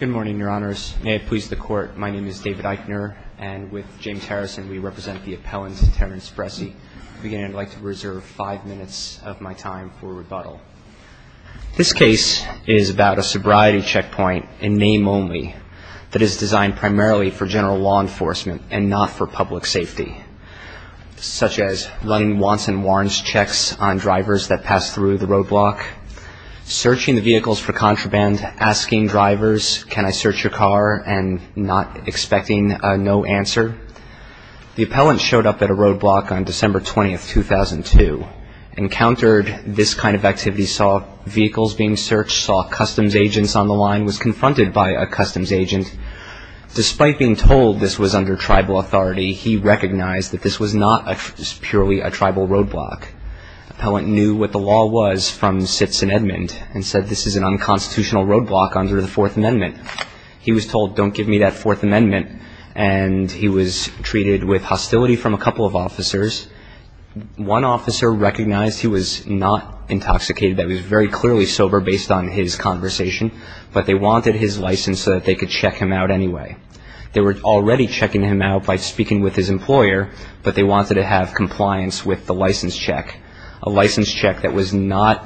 Good morning, Your Honors. May it please the Court, my name is David Eichner, and with James Harrison, we represent the appellant, Terrence Bressi. Again, I'd like to reserve five minutes of my time for rebuttal. This case is about a sobriety checkpoint in name only that is designed primarily for general law enforcement and not for public safety, such as running wants and warrants checks on drivers that pass through the roadblock, searching the vehicles for contraband, asking drivers, can I search your car, and not expecting a no answer. The appellant showed up at a roadblock on December 20, 2002, encountered this kind of activity, saw vehicles being searched, saw customs agents on the line, was confronted by a customs agent. Despite being told this was under tribal authority, he recognized that this was not purely a tribal roadblock. The appellant knew what the law was from Sitz and Edmond and said this is an unconstitutional roadblock under the Fourth Amendment. He was told, don't give me that Fourth Amendment, and he was treated with hostility from a couple of officers. One officer recognized he was not intoxicated, that he was very clearly sober based on his conversation, but they wanted his license so that they could check him out anyway. They were already checking him out by speaking with his employer, but they wanted to have compliance with the license check, a license check that was not,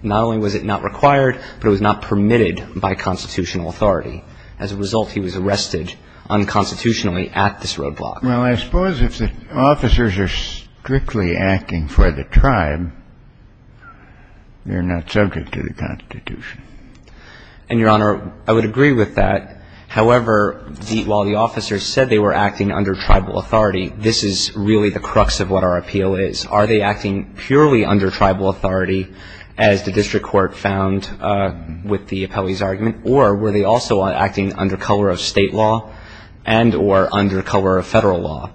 not only was it not required, but it was not permitted by constitutional authority. As a result, he was arrested unconstitutionally at this roadblock. Well, I suppose if the officers are strictly acting for the tribe, they're not subject to the Constitution. And, Your Honor, I would agree with that. However, the, while the officers said they were acting under tribal authority, this is really the crux of what our appeal is. Are they acting purely under tribal authority, as the district court found with the appellee's argument, or were they also acting under color of state law and or under color of federal law?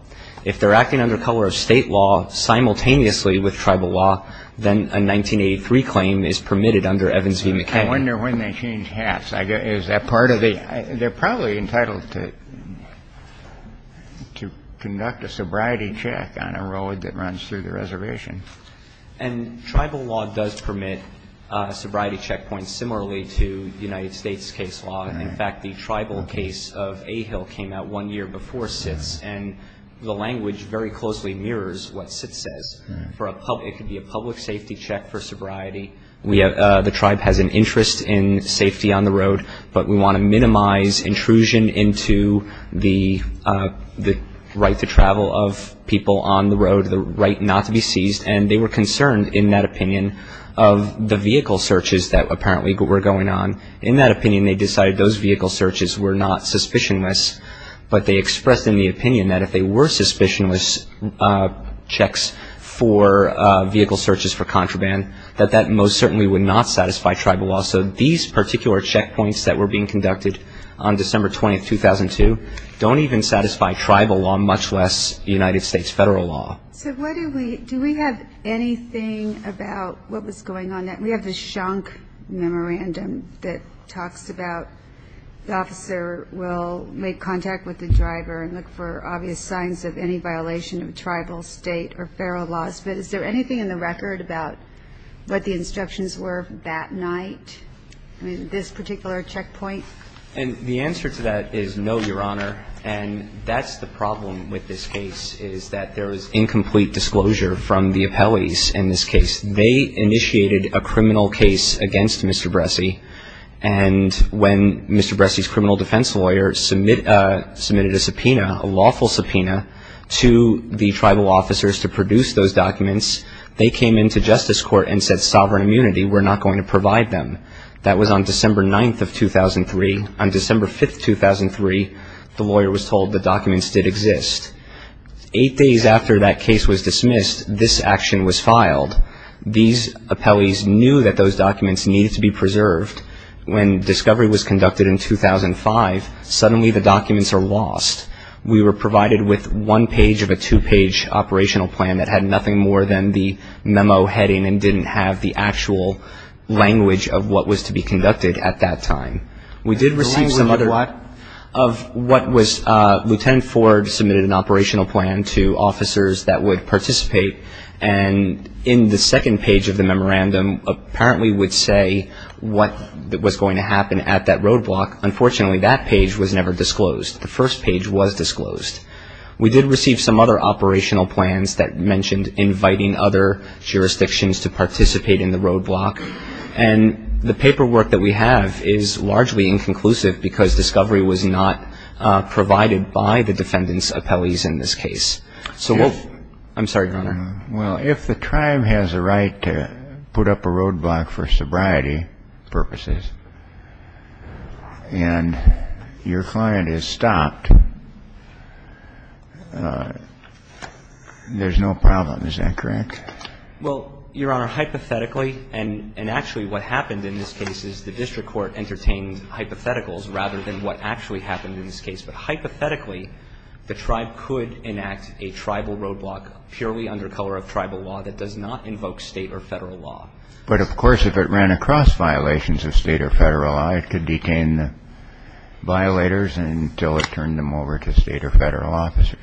If they're acting under color of state law simultaneously with tribal law, then a 1983 claim is permitted under Evans v. McCain. I wonder when they change hats. I guess, is that part of the? They're probably entitled to, to conduct a sobriety check on a road that runs through the reservation. And tribal law does permit sobriety checkpoints similarly to United States case law. In fact, the tribal case of A-Hill came out one year before Sitz, and the language very closely mirrors what Sitz says. For a public, it could be a public safety check for sobriety. We have, the tribe has an interest in safety on the road, but we want to minimize intrusion into the, the right to travel of people on the road, the right not to be seized. And they were concerned, in that opinion, of the vehicle searches that apparently were going on. In that opinion, they decided those vehicle searches were not suspicionless, but they expressed in the opinion that if they were suspicionless checks for vehicle searches for contraband, that that most certainly would not satisfy tribal law. So these particular checkpoints that were being conducted on December 20, 2002, don't even satisfy tribal law, much less United States federal law. So what do we, do we have anything about what was going on? We have the Schunk Memorandum that talks about the officer will make contact with the driver and look for obvious signs of any violation of tribal, state, or federal laws. But is there anything in the record about what the instructions were that night? I mean, this particular checkpoint? And the answer to that is no, Your Honor. And that's the problem with this case, is that there was incomplete disclosure from the appellees in this case. They initiated a criminal case against Mr. Bressey, and when Mr. Bressey's criminal defense lawyer submitted a subpoena, a lawful subpoena, to the tribal officers to produce those documents, they came into Justice Court and said, Sovereign Immunity, we're not going to provide them. That was on December 9, 2003. On December 5, 2003, the lawyer was told the documents did exist. Eight days after that case was dismissed, this action was filed. These appellees knew that those documents needed to be preserved. When discovery was conducted in 2005, suddenly the documents are lost. We were provided with one page of a two-page operational plan that had nothing more than the memo heading and didn't have the actual language of what was to be conducted at that time. We did receive some other of what was, Lieutenant Ford submitted an operational plan to officers that would participate, and in the second page of the memorandum apparently would say what was going to happen at that roadblock. Unfortunately, that page was never disclosed. The first page was disclosed. We did receive some other operational plans that mentioned inviting other jurisdictions to participate in the roadblock, and the paperwork that we have is largely inconclusive because discovery was not provided by the defendant's appellees in this case. So we'll – I'm sorry, Your Honor. Well, if the tribe has a right to put up a roadblock for sobriety purposes and your client is stopped, there's no problem. Is that correct? Well, Your Honor, hypothetically, and actually what happened in this case is the district court entertained hypotheticals rather than what actually happened in this case. But hypothetically, the tribe could enact a tribal roadblock purely under color of tribal law that does not invoke state or federal law. But of course, if it ran across violations of state or federal law, it could detain the violators until it turned them over to state or federal officers.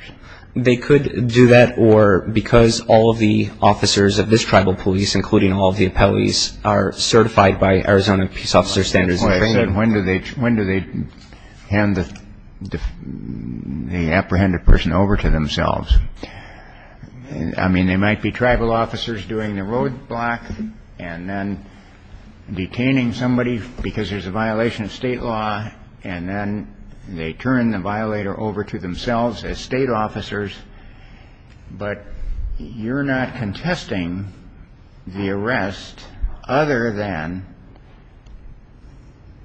They could do that, or because all of the officers of this tribal police, including all of the appellees, are certified by Arizona Peace Officer Standards and Training – the apprehended person over to themselves. I mean, there might be tribal officers doing the roadblock and then detaining somebody because there's a violation of state law and then they turn the violator over to themselves as state officers. But you're not contesting the arrest other than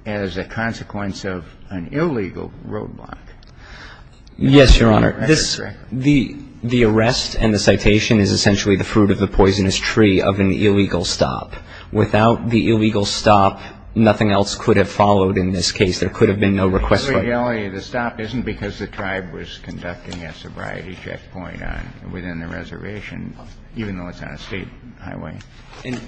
as a consequence of an illegal roadblock. Yes, Your Honor. That's correct. The arrest and the citation is essentially the fruit of the poisonous tree of an illegal stop. Without the illegal stop, nothing else could have followed in this case. There could have been no request for it. But the reality of the stop isn't because the tribe was conducting a sobriety checkpoint within the reservation, even though it's not a state highway.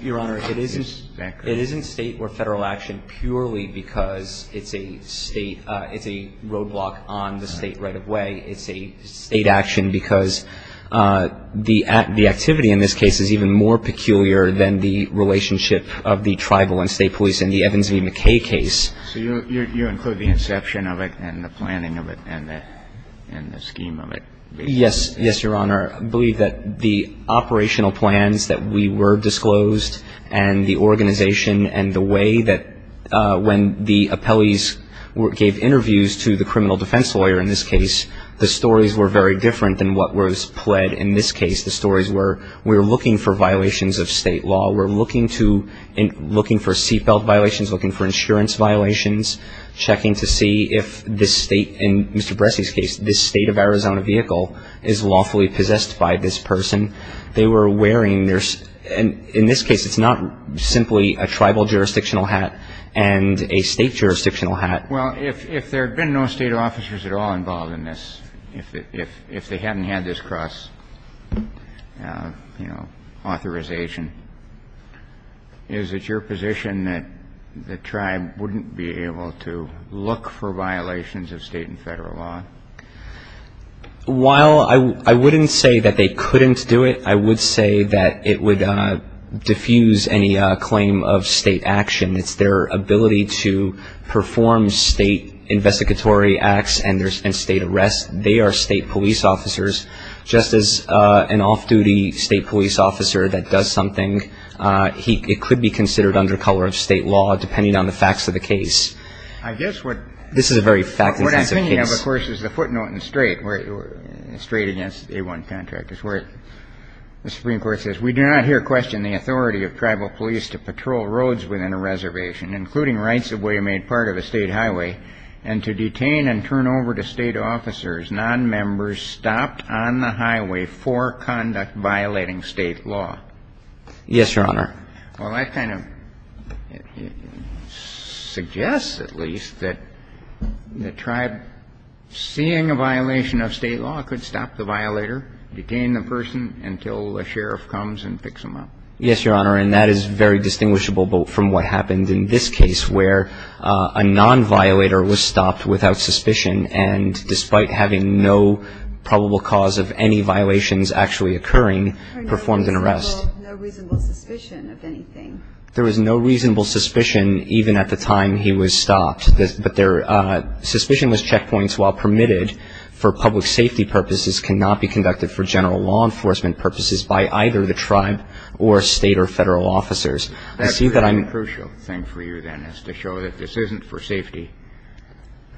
Your Honor, it isn't state or federal action purely because it's a state – it's a roadblock on the state right-of-way. It's a state action because the activity in this case is even more peculiar than the relationship of the tribal and state police in the Evans v. McKay case. So you include the inception of it and the planning of it and the scheme of it? Yes. Yes, Your Honor. I believe that the operational plans that we were disclosed and the organization and the way that when the appellees gave interviews to the criminal defense lawyer in this case, the stories were very different than what was pled in this case. The stories were, we're looking for violations of state law. We're looking to – looking for seatbelt violations, looking for insurance violations, checking to see if the state – in this case, it's not simply a tribal jurisdictional hat and a state jurisdictional hat. Well, if there had been no state officers at all involved in this, if they hadn't had this cross, you know, authorization, is it your position that the tribe wouldn't be able to look for violations of state and federal law? While I wouldn't say that they couldn't do it, I would say that it would diffuse any claim of state action. It's their ability to perform state investigatory acts and state arrests. They are state police officers. Just as an off-duty state police officer that does something, it could be considered under color of state law, depending on the facts of the case. This is a very fact-intensive case. What I'm thinking of, of course, is the footnote in Strait, Strait against the A-1 contract. It's where the Supreme Court says, we do not here question the authority of tribal police to patrol roads within a reservation, including rights of way made part of a state highway, and to detain and turn over to state officers, nonmembers stopped on the highway for conduct violating state law. Yes, Your Honor. Well, that kind of suggests at least that the tribe, seeing a violation of state law, could stop the violator, detain the person until a sheriff comes and picks them up. Yes, Your Honor. And that is very distinguishable from what happened in this case, where a nonviolator was stopped without suspicion and, despite having no probable cause of any violations actually occurring, performed an arrest. There was no reasonable suspicion of anything. There was no reasonable suspicion, even at the time he was stopped. But suspicionless checkpoints, while permitted for public safety purposes, cannot be conducted for general law enforcement purposes by either the tribe or state or Federal officers. That's a crucial thing for you, then, is to show that this isn't for safety.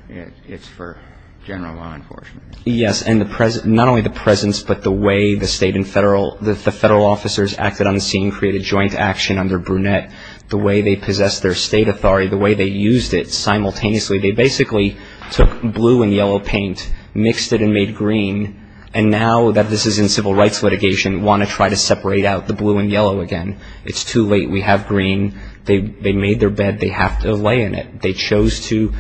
It's for general law enforcement. Yes. And not only the presence, but the way the State and Federal, the Federal officers acted on the scene, created joint action under Brunette, the way they possessed their state authority, the way they used it simultaneously. They basically took blue and yellow paint, mixed it and made green. And now that this is in civil rights litigation, want to try to separate out the blue and yellow again. It's too late. We have green. They made their bed. They have to lay in it. They chose to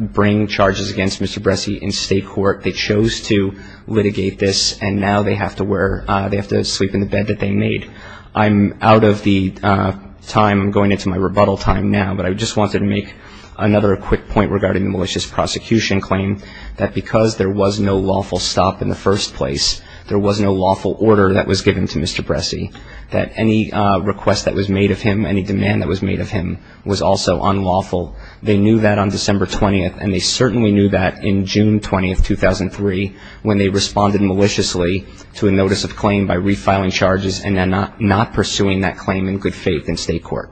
bring charges against Mr. Bresci in state court. They chose to litigate this. And now they have to wear, they have to sleep in the bed that they made. I'm out of the time. I'm going into my rebuttal time now. But I just wanted to make another quick point regarding the malicious prosecution claim, that because there was no lawful stop in the first place, there was no lawful order that was given to Mr. Bresci, that any request that was made of him, any demand that was made of him was also unlawful. They knew that on December 20th, and they certainly knew that in June 20th, 2003, when they responded maliciously to a notice of claim by refiling charges and then not pursuing that claim in good faith in state court.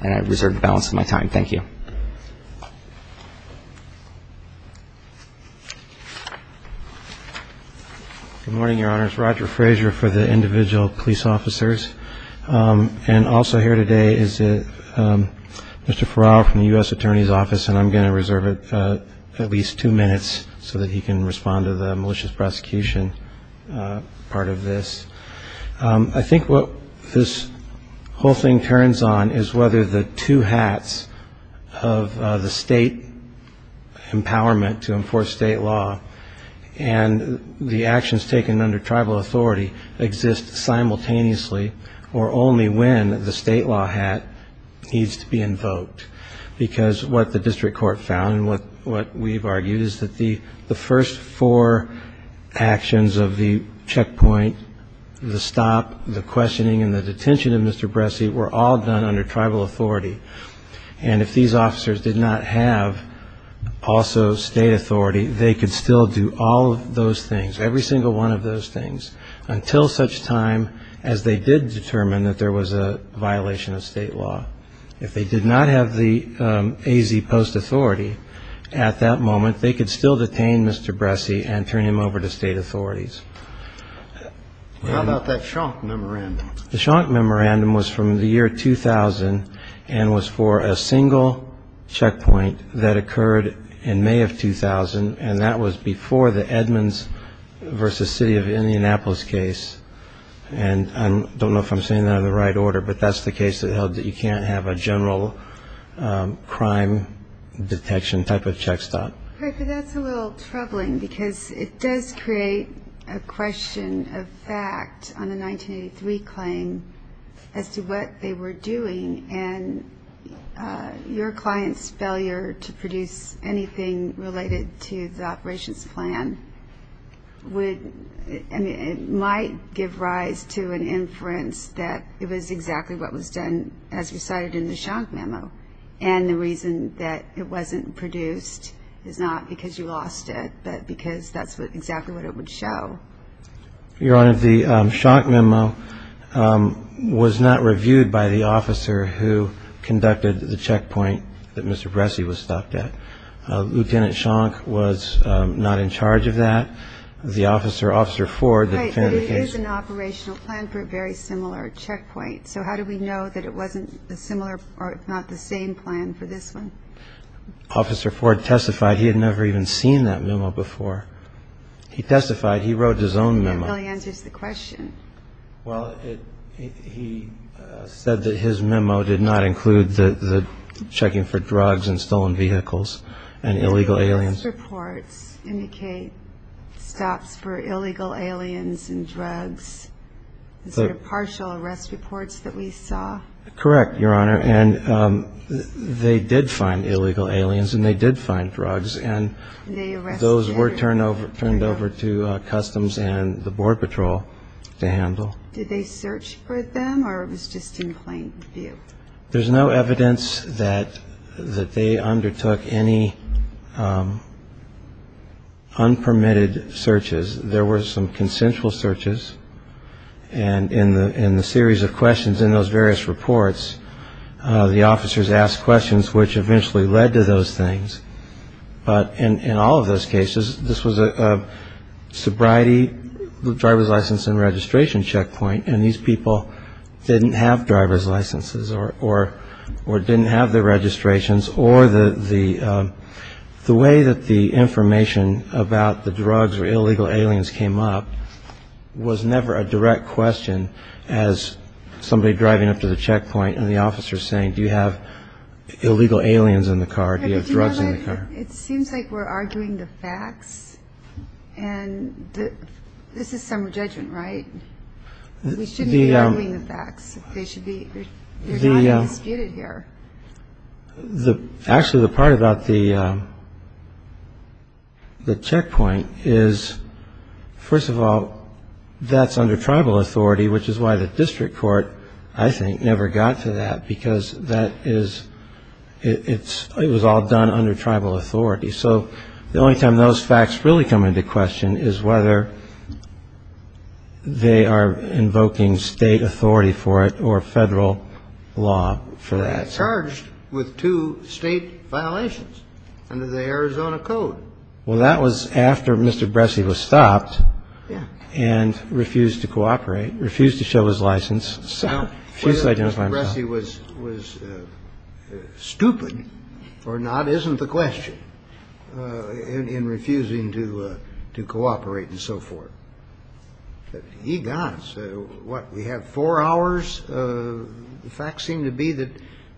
And I reserve the balance of my time. Thank you. Good morning, Your Honors. My name is Roger Frazier for the individual police officers. And also here today is Mr. Farrell from the U.S. Attorney's Office, and I'm going to reserve at least two minutes so that he can respond to the malicious prosecution part of this. I think what this whole thing turns on is whether the two hats of the state empowerment to enforce state law and the actions taken under tribal authority exist simultaneously or only when the state law hat needs to be invoked. Because what the district court found and what we've argued is that the first four actions of the checkpoint, the stop, the questioning, and the detention of Mr. Bresci were all done under tribal authority. And if these officers did not have also state authority, they could still do all of those things, every single one of those things, until such time as they did determine that there was a violation of state law. If they did not have the AZ post authority at that moment, they could still detain Mr. Bresci and turn him over to state authorities. How about that Schunk Memorandum? The Schunk Memorandum was from the year 2000 and was for a single checkpoint that occurred in May of 2000, and that was before the Edmonds v. City of Indianapolis case. And I don't know if I'm saying that in the right order, but that's the case that held that you can't have a general crime detection type of check stop. That's a little troubling because it does create a question of fact on the 1983 claim as to what they were doing, and your client's failure to produce anything related to the operations plan might give rise to an inference that it was exactly what was done as recited in the Schunk Memo, and the reason that it wasn't produced is not because you lost it, but because that's exactly what it would show. Your Honor, the Schunk Memo was not reviewed by the officer who conducted the checkpoint that Mr. Bresci was stopped at. Lieutenant Schunk was not in charge of that. The officer, Officer Ford... Right, but it is an operational plan for a very similar checkpoint, so how do we know that it wasn't a similar or if not the same plan for this one? Officer Ford testified he had never even seen that memo before. He testified he wrote his own memo. That really answers the question. Well, he said that his memo did not include the checking for drugs and stolen vehicles and illegal aliens. The arrest reports indicate stops for illegal aliens and drugs, the sort of partial arrest reports that we saw. Correct, Your Honor, and they did find illegal aliens and they did find drugs, and those were turned over to Customs and the Board Patrol to handle. Did they search for them or it was just in plain view? There's no evidence that they undertook any unpermitted searches. There were some consensual searches, and in the series of questions in those various reports, the officers asked questions which eventually led to those things. But in all of those cases, this was a sobriety driver's license and registration checkpoint, and these people didn't have driver's licenses or didn't have their registrations, or the way that the information about the drugs or illegal aliens came up was never a direct question as somebody driving up to the checkpoint and the officer saying, do you have illegal aliens in the car, do you have drugs in the car? It seems like we're arguing the facts, and this is some judgment, right? We shouldn't be arguing the facts. They're not being disputed here. Actually, the part about the checkpoint is, first of all, that's under tribal authority, which is why the district court, I think, never got to that, because it was all done under tribal authority. So the only time those facts really come into question is whether they are invoking state authority for it or federal law for that. They were charged with two state violations under the Arizona Code. Well, that was after Mr. Bressee was stopped and refused to cooperate, refused to show his license, refused to identify himself. Whether Mr. Bressee was stupid or not isn't the question in refusing to cooperate and so forth. But he got, so what, we have four hours? The facts seem to be that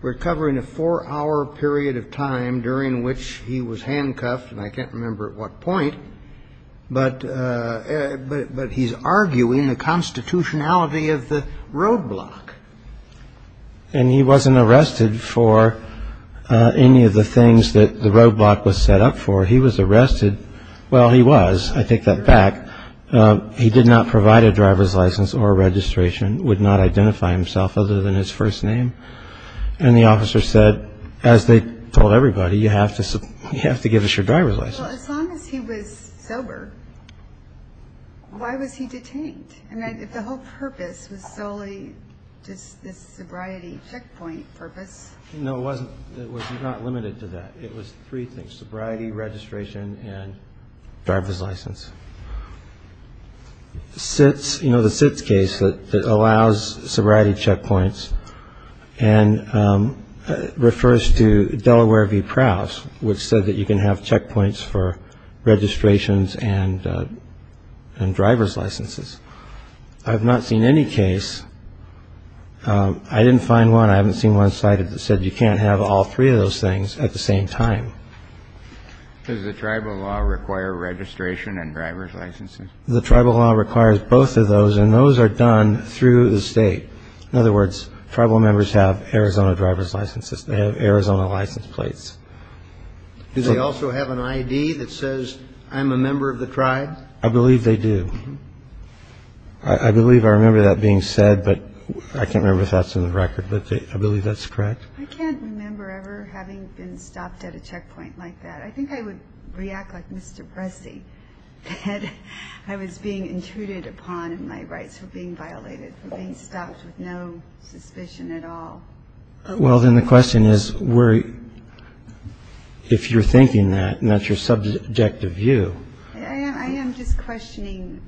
we're covering a four-hour period of time during which he was handcuffed, and I can't remember at what point, but he's arguing the constitutionality of the roadblock. And he wasn't arrested for any of the things that the roadblock was set up for. He was arrested, well, he was, I take that back. He did not provide a driver's license or registration, would not identify himself other than his first name. And the officer said, as they told everybody, you have to give us your driver's license. Well, as long as he was sober, why was he detained? I mean, if the whole purpose was solely just this sobriety checkpoint purpose. No, it wasn't. It was not limited to that. It was three things, sobriety, registration and driver's license. SITS, you know the SITS case that allows sobriety checkpoints and refers to Delaware v. Prowse, which said that you can have checkpoints for registrations and driver's licenses. I've not seen any case. I didn't find one. I haven't seen one cited that said you can't have all three of those things at the same time. Does the tribal law require registration and driver's licenses? The tribal law requires both of those, and those are done through the state. In other words, tribal members have Arizona driver's licenses. They have Arizona license plates. Do they also have an I.D. that says I'm a member of the tribe? I believe they do. I believe I remember that being said, but I can't remember if that's in the record. But I believe that's correct. I can't remember ever having been stopped at a checkpoint like that. I think I would react like Mr. Bresse that I was being intruded upon in my rights for being violated, for being stopped with no suspicion at all. Well, then the question is, if you're thinking that and that's your subjective view. I am just questioning.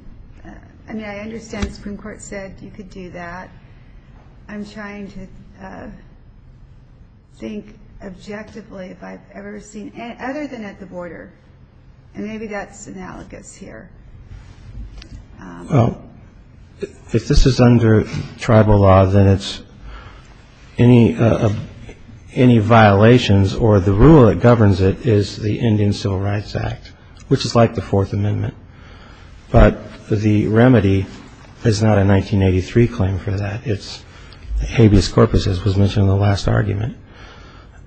I mean, I understand the Supreme Court said you could do that. I'm trying to think objectively if I've ever seen, other than at the border. And maybe that's analogous here. If this is under tribal law, then it's any violations or the rule that governs it is the Indian Civil Rights Act, which is like the Fourth Amendment. But the remedy is not a 1983 claim for that. It's habeas corpus, as was mentioned in the last argument.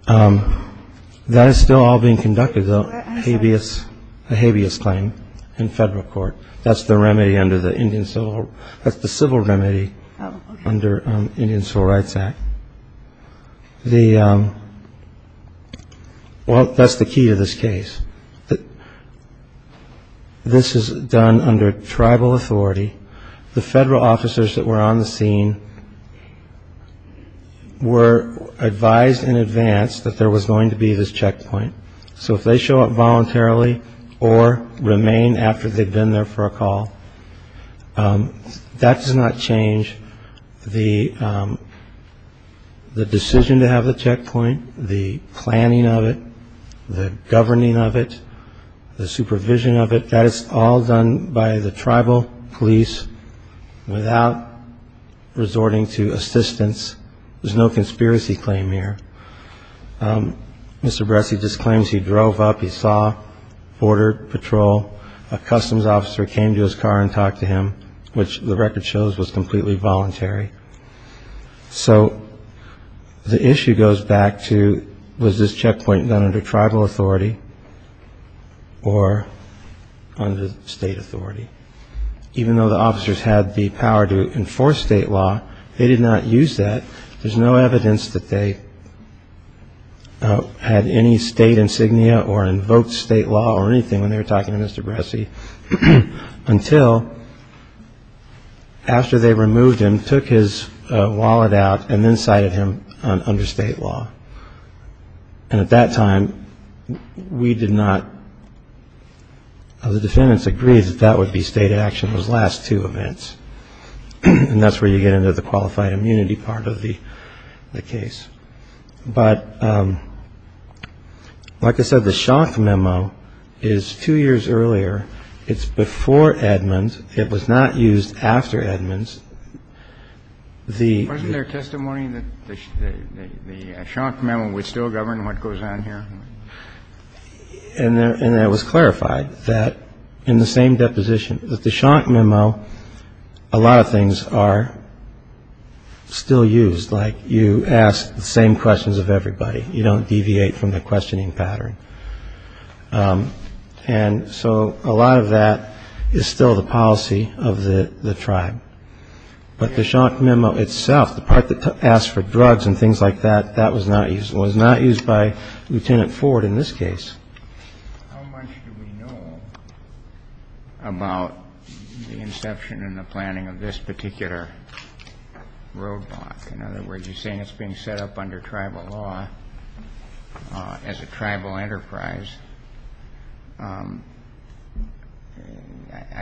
That is still all being conducted, though, a habeas claim in federal court. That's the remedy under the Indian Civil. That's the civil remedy under the Indian Civil Rights Act. The well, that's the key to this case. This is done under tribal authority. The federal officers that were on the scene were advised in advance that there was going to be this checkpoint. So if they show up voluntarily or remain after they've been there for a call, that does not change the decision to have the checkpoint, the planning of it, the governing of it, the supervision of it. That is all done by the tribal police without resorting to assistance. There's no conspiracy claim here. Mr. Bresci just claims he drove up. He saw Border Patrol. A customs officer came to his car and talked to him, which the record shows was completely voluntary. So the issue goes back to was this checkpoint done under tribal authority or under state authority? Even though the officers had the power to enforce state law, they did not use that. There's no evidence that they had any state insignia or invoked state law or anything when they were talking to Mr. Bresci until after they removed him, took his wallet out and then cited him under state law. And at that time, we did not. The defendants agreed that that would be state action, those last two events. And that's where you get into the qualified immunity part of the case. But like I said, the Schanck memo is two years earlier. It's before Edmonds. It was not used after Edmonds. The ---- Wasn't there testimony that the Schanck memo would still govern what goes on here? And it was clarified that in the same deposition that the Schanck memo, a lot of things are still used. Like you ask the same questions of everybody. You don't deviate from the questioning pattern. And so a lot of that is still the policy of the tribe. But the Schanck memo itself, the part that asked for drugs and things like that, that was not used. But the fact that that was not used by Lieutenant Ford in this case. How much do we know about the inception in the planning of this particular roadblock? In other words, you're saying it's being set up under tribal law as a tribal enterprise. I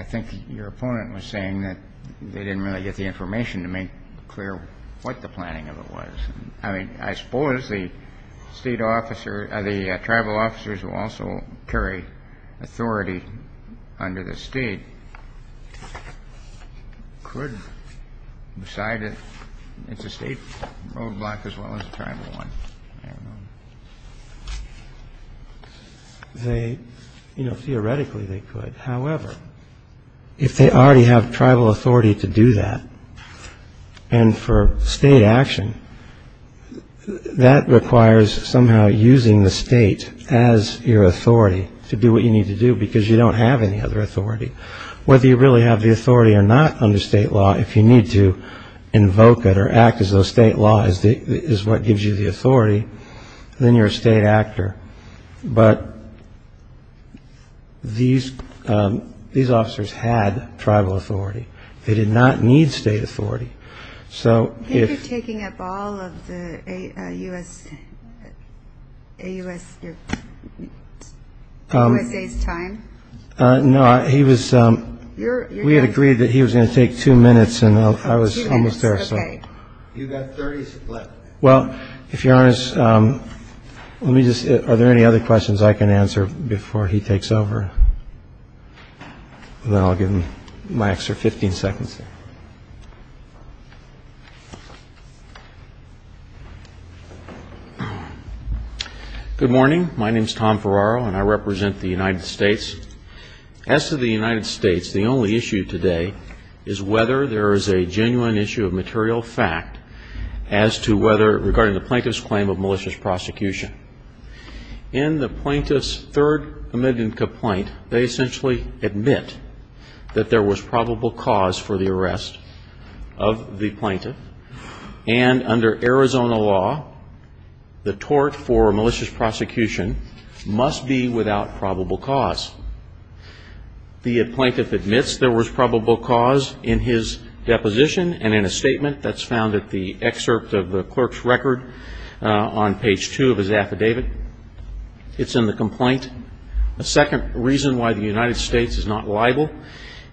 think your opponent was saying that they didn't really get the information to make clear what the planning of it was. I mean, I suppose the state officer, the tribal officers who also carry authority under the state could decide that it's a state roadblock as well as a tribal one. I don't know. Theoretically, they could. However, if they already have tribal authority to do that and for state action, that requires somehow using the state as your authority to do what you need to do because you don't have any other authority. Whether you really have the authority or not under state law, if you need to invoke it or act as though state law is what gives you the authority, then you're a state actor. But these officers had tribal authority. They did not need state authority. I think you're taking up all of the USA's time. No, we had agreed that he was going to take two minutes and I was almost there. You've got 30 minutes left. Well, if you're honest, are there any other questions I can answer before he takes over? Then I'll give him my extra 15 seconds. Good morning. My name is Tom Ferraro and I represent the United States. As to the United States, the only issue today is whether there is a genuine issue of material fact as to whether, regarding the plaintiff's claim of malicious prosecution. In the plaintiff's third committment complaint, they essentially admit that there was probable cause for the arrest of the plaintiff. And under Arizona law, the tort for malicious prosecution must be without probable cause. The plaintiff admits there was probable cause in his deposition and in a statement that's found at the excerpt of the clerk's record on page two of his affidavit. It's in the complaint. A second reason why the United States is not liable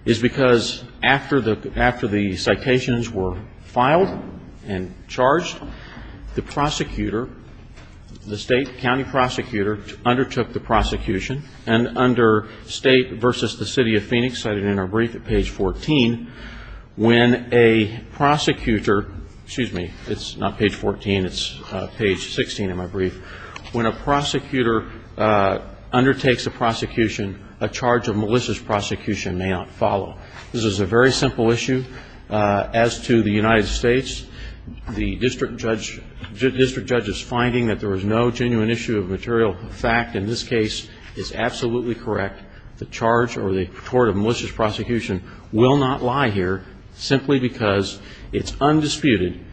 is because after the citations were filed and charged, the prosecutor, the state county prosecutor, undertook the prosecution. And under state versus the city of Phoenix, cited in our brief at page 14, when a prosecutor, excuse me, it's not page 14, it's page 16 in my brief, when a prosecutor undertakes a prosecution, a charge of malicious prosecution may not follow. This is a very simple issue. As to the United States, the district judge is finding that there was no genuine issue of material fact. In this case, it's absolutely correct. The charge or the tort of malicious prosecution will not lie here simply because it's undisputed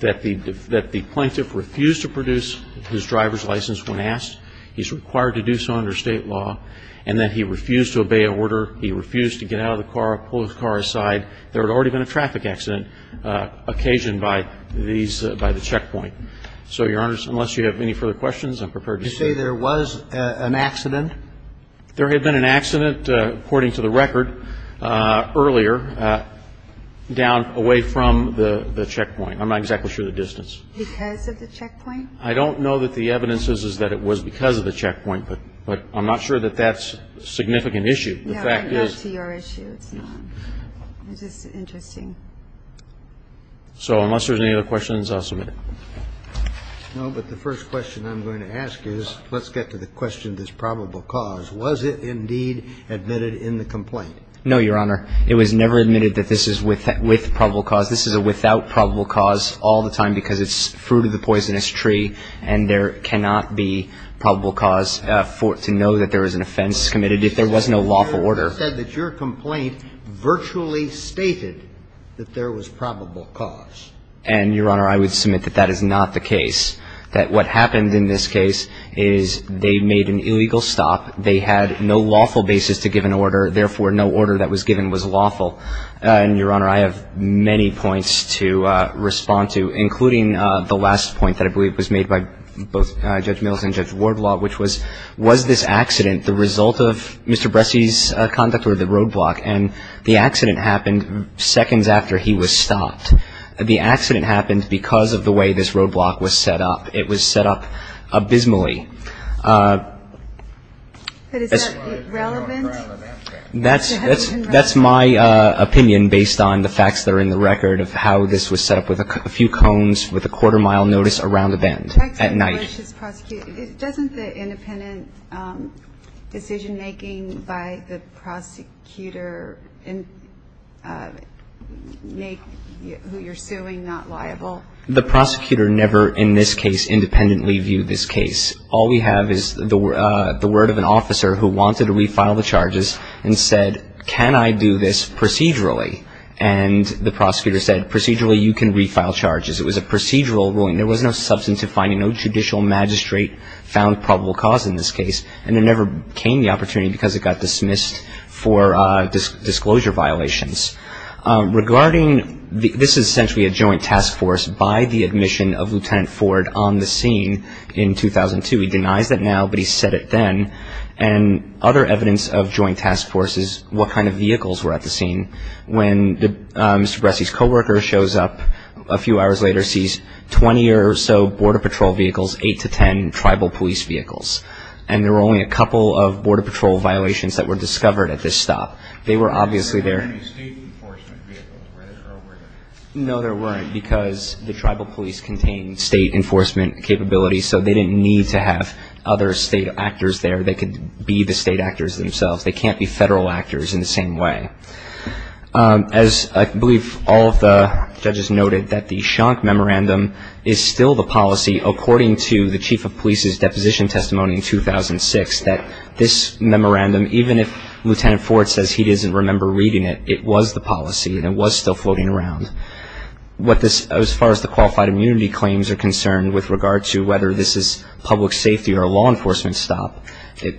that the plaintiff refused to produce his driver's license when asked. He's required to do so under state law. And that he refused to obey order. He refused to get out of the car, pull his car aside. There had already been a traffic accident occasioned by these by the checkpoint. So, Your Honors, unless you have any further questions, I'm prepared to stay. You say there was an accident? There had been an accident, according to the record, earlier, down away from the checkpoint. I'm not exactly sure of the distance. Because of the checkpoint? I don't know that the evidence is that it was because of the checkpoint. But I'm not sure that that's a significant issue. Yeah, right. Not to your issue. It's not. It's just interesting. So unless there's any other questions, I'll submit it. No, but the first question I'm going to ask is, let's get to the question of this probable cause. Was it indeed admitted in the complaint? No, Your Honor. It was never admitted that this is with probable cause. This is without probable cause all the time because it's fruit of the poisonous tree. And there cannot be probable cause to know that there was an offense committed if there was no lawful order. You said that your complaint virtually stated that there was probable cause. And, Your Honor, I would submit that that is not the case. That what happened in this case is they made an illegal stop. They had no lawful basis to give an order. Therefore, no order that was given was lawful. And, Your Honor, I have many points to respond to, including the last point that I believe was made by both Judge Mills and Judge Wardlaw, which was, was this accident the result of Mr. Bresci's conduct or the roadblock? And the accident happened seconds after he was stopped. The accident happened because of the way this roadblock was set up. It was set up abysmally. But is that relevant? That's my opinion, based on the facts that are in the record, of how this was set up with a few cones with a quarter-mile notice around the bend at night. Doesn't the independent decision-making by the prosecutor make who you're suing not liable? The prosecutor never, in this case, independently viewed this case. All we have is the word of an officer who wanted to refile the charges and said, can I do this procedurally? And the prosecutor said, procedurally, you can refile charges. It was a procedural ruling. There was no substance to finding no judicial magistrate found probable cause in this case. And there never came the opportunity because it got dismissed for disclosure violations. Regarding, this is essentially a joint task force by the admission of Lieutenant Ford on the scene in 2002. He denies that now, but he said it then. And other evidence of joint task force is what kind of vehicles were at the scene when Mr. Bresci's co-worker shows up a few hours later, sees 20 or so border patrol vehicles, 8 to 10 tribal police vehicles. And there were only a couple of border patrol violations that were discovered at this stop. They were obviously there. There weren't any state enforcement vehicles, were there? No, there weren't, because the tribal police contained state enforcement capabilities, so they didn't need to have other state actors there. They could be the state actors themselves. They can't be federal actors in the same way. As I believe all of the judges noted, that the Schonk Memorandum is still the policy, according to the chief of police's deposition testimony in 2006, that this memorandum, even if Lieutenant Ford says he doesn't remember reading it, it was the policy, and it was still floating around. As far as the qualified immunity claims are concerned with regard to whether this is public safety or a law enforcement stop,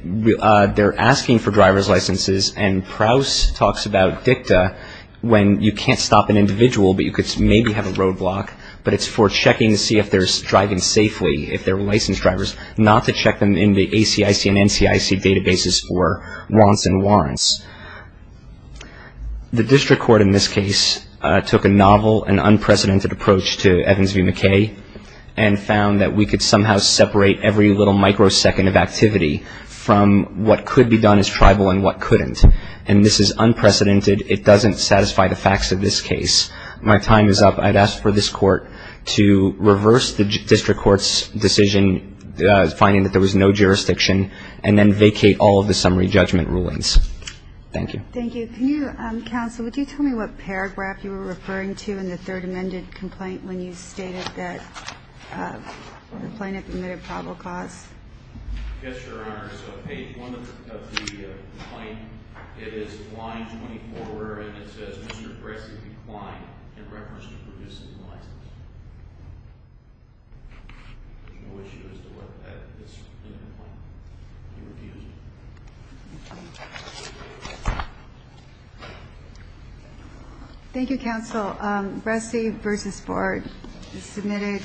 they're asking for driver's licenses, and Prowse talks about DICTA when you can't stop an individual, but you could maybe have a roadblock, but it's for checking to see if they're driving safely, if they're licensed drivers, not to check them in the ACIC and NCIC databases for wants and warrants. The district court in this case took a novel and unprecedented approach to Evans v. McKay and found that we could somehow separate every little microsecond of activity from what could be done as tribal and what couldn't. And this is unprecedented. It doesn't satisfy the facts of this case. My time is up. I'd ask for this court to reverse the district court's decision, finding that there was no jurisdiction, and then vacate all of the summary judgment rulings. Thank you. Thank you. Counsel, would you tell me what paragraph you were referring to in the third amended complaint when you stated that the plaintiff omitted probable cause? Yes, Your Honor. So page 1 of the complaint, it is line 24, and it says, Mr. Bressey declined in reference to producing the license. The issue is to look at this in the complaint. He refused. Thank you. Thank you, counsel. Bressey v. Board is submitted.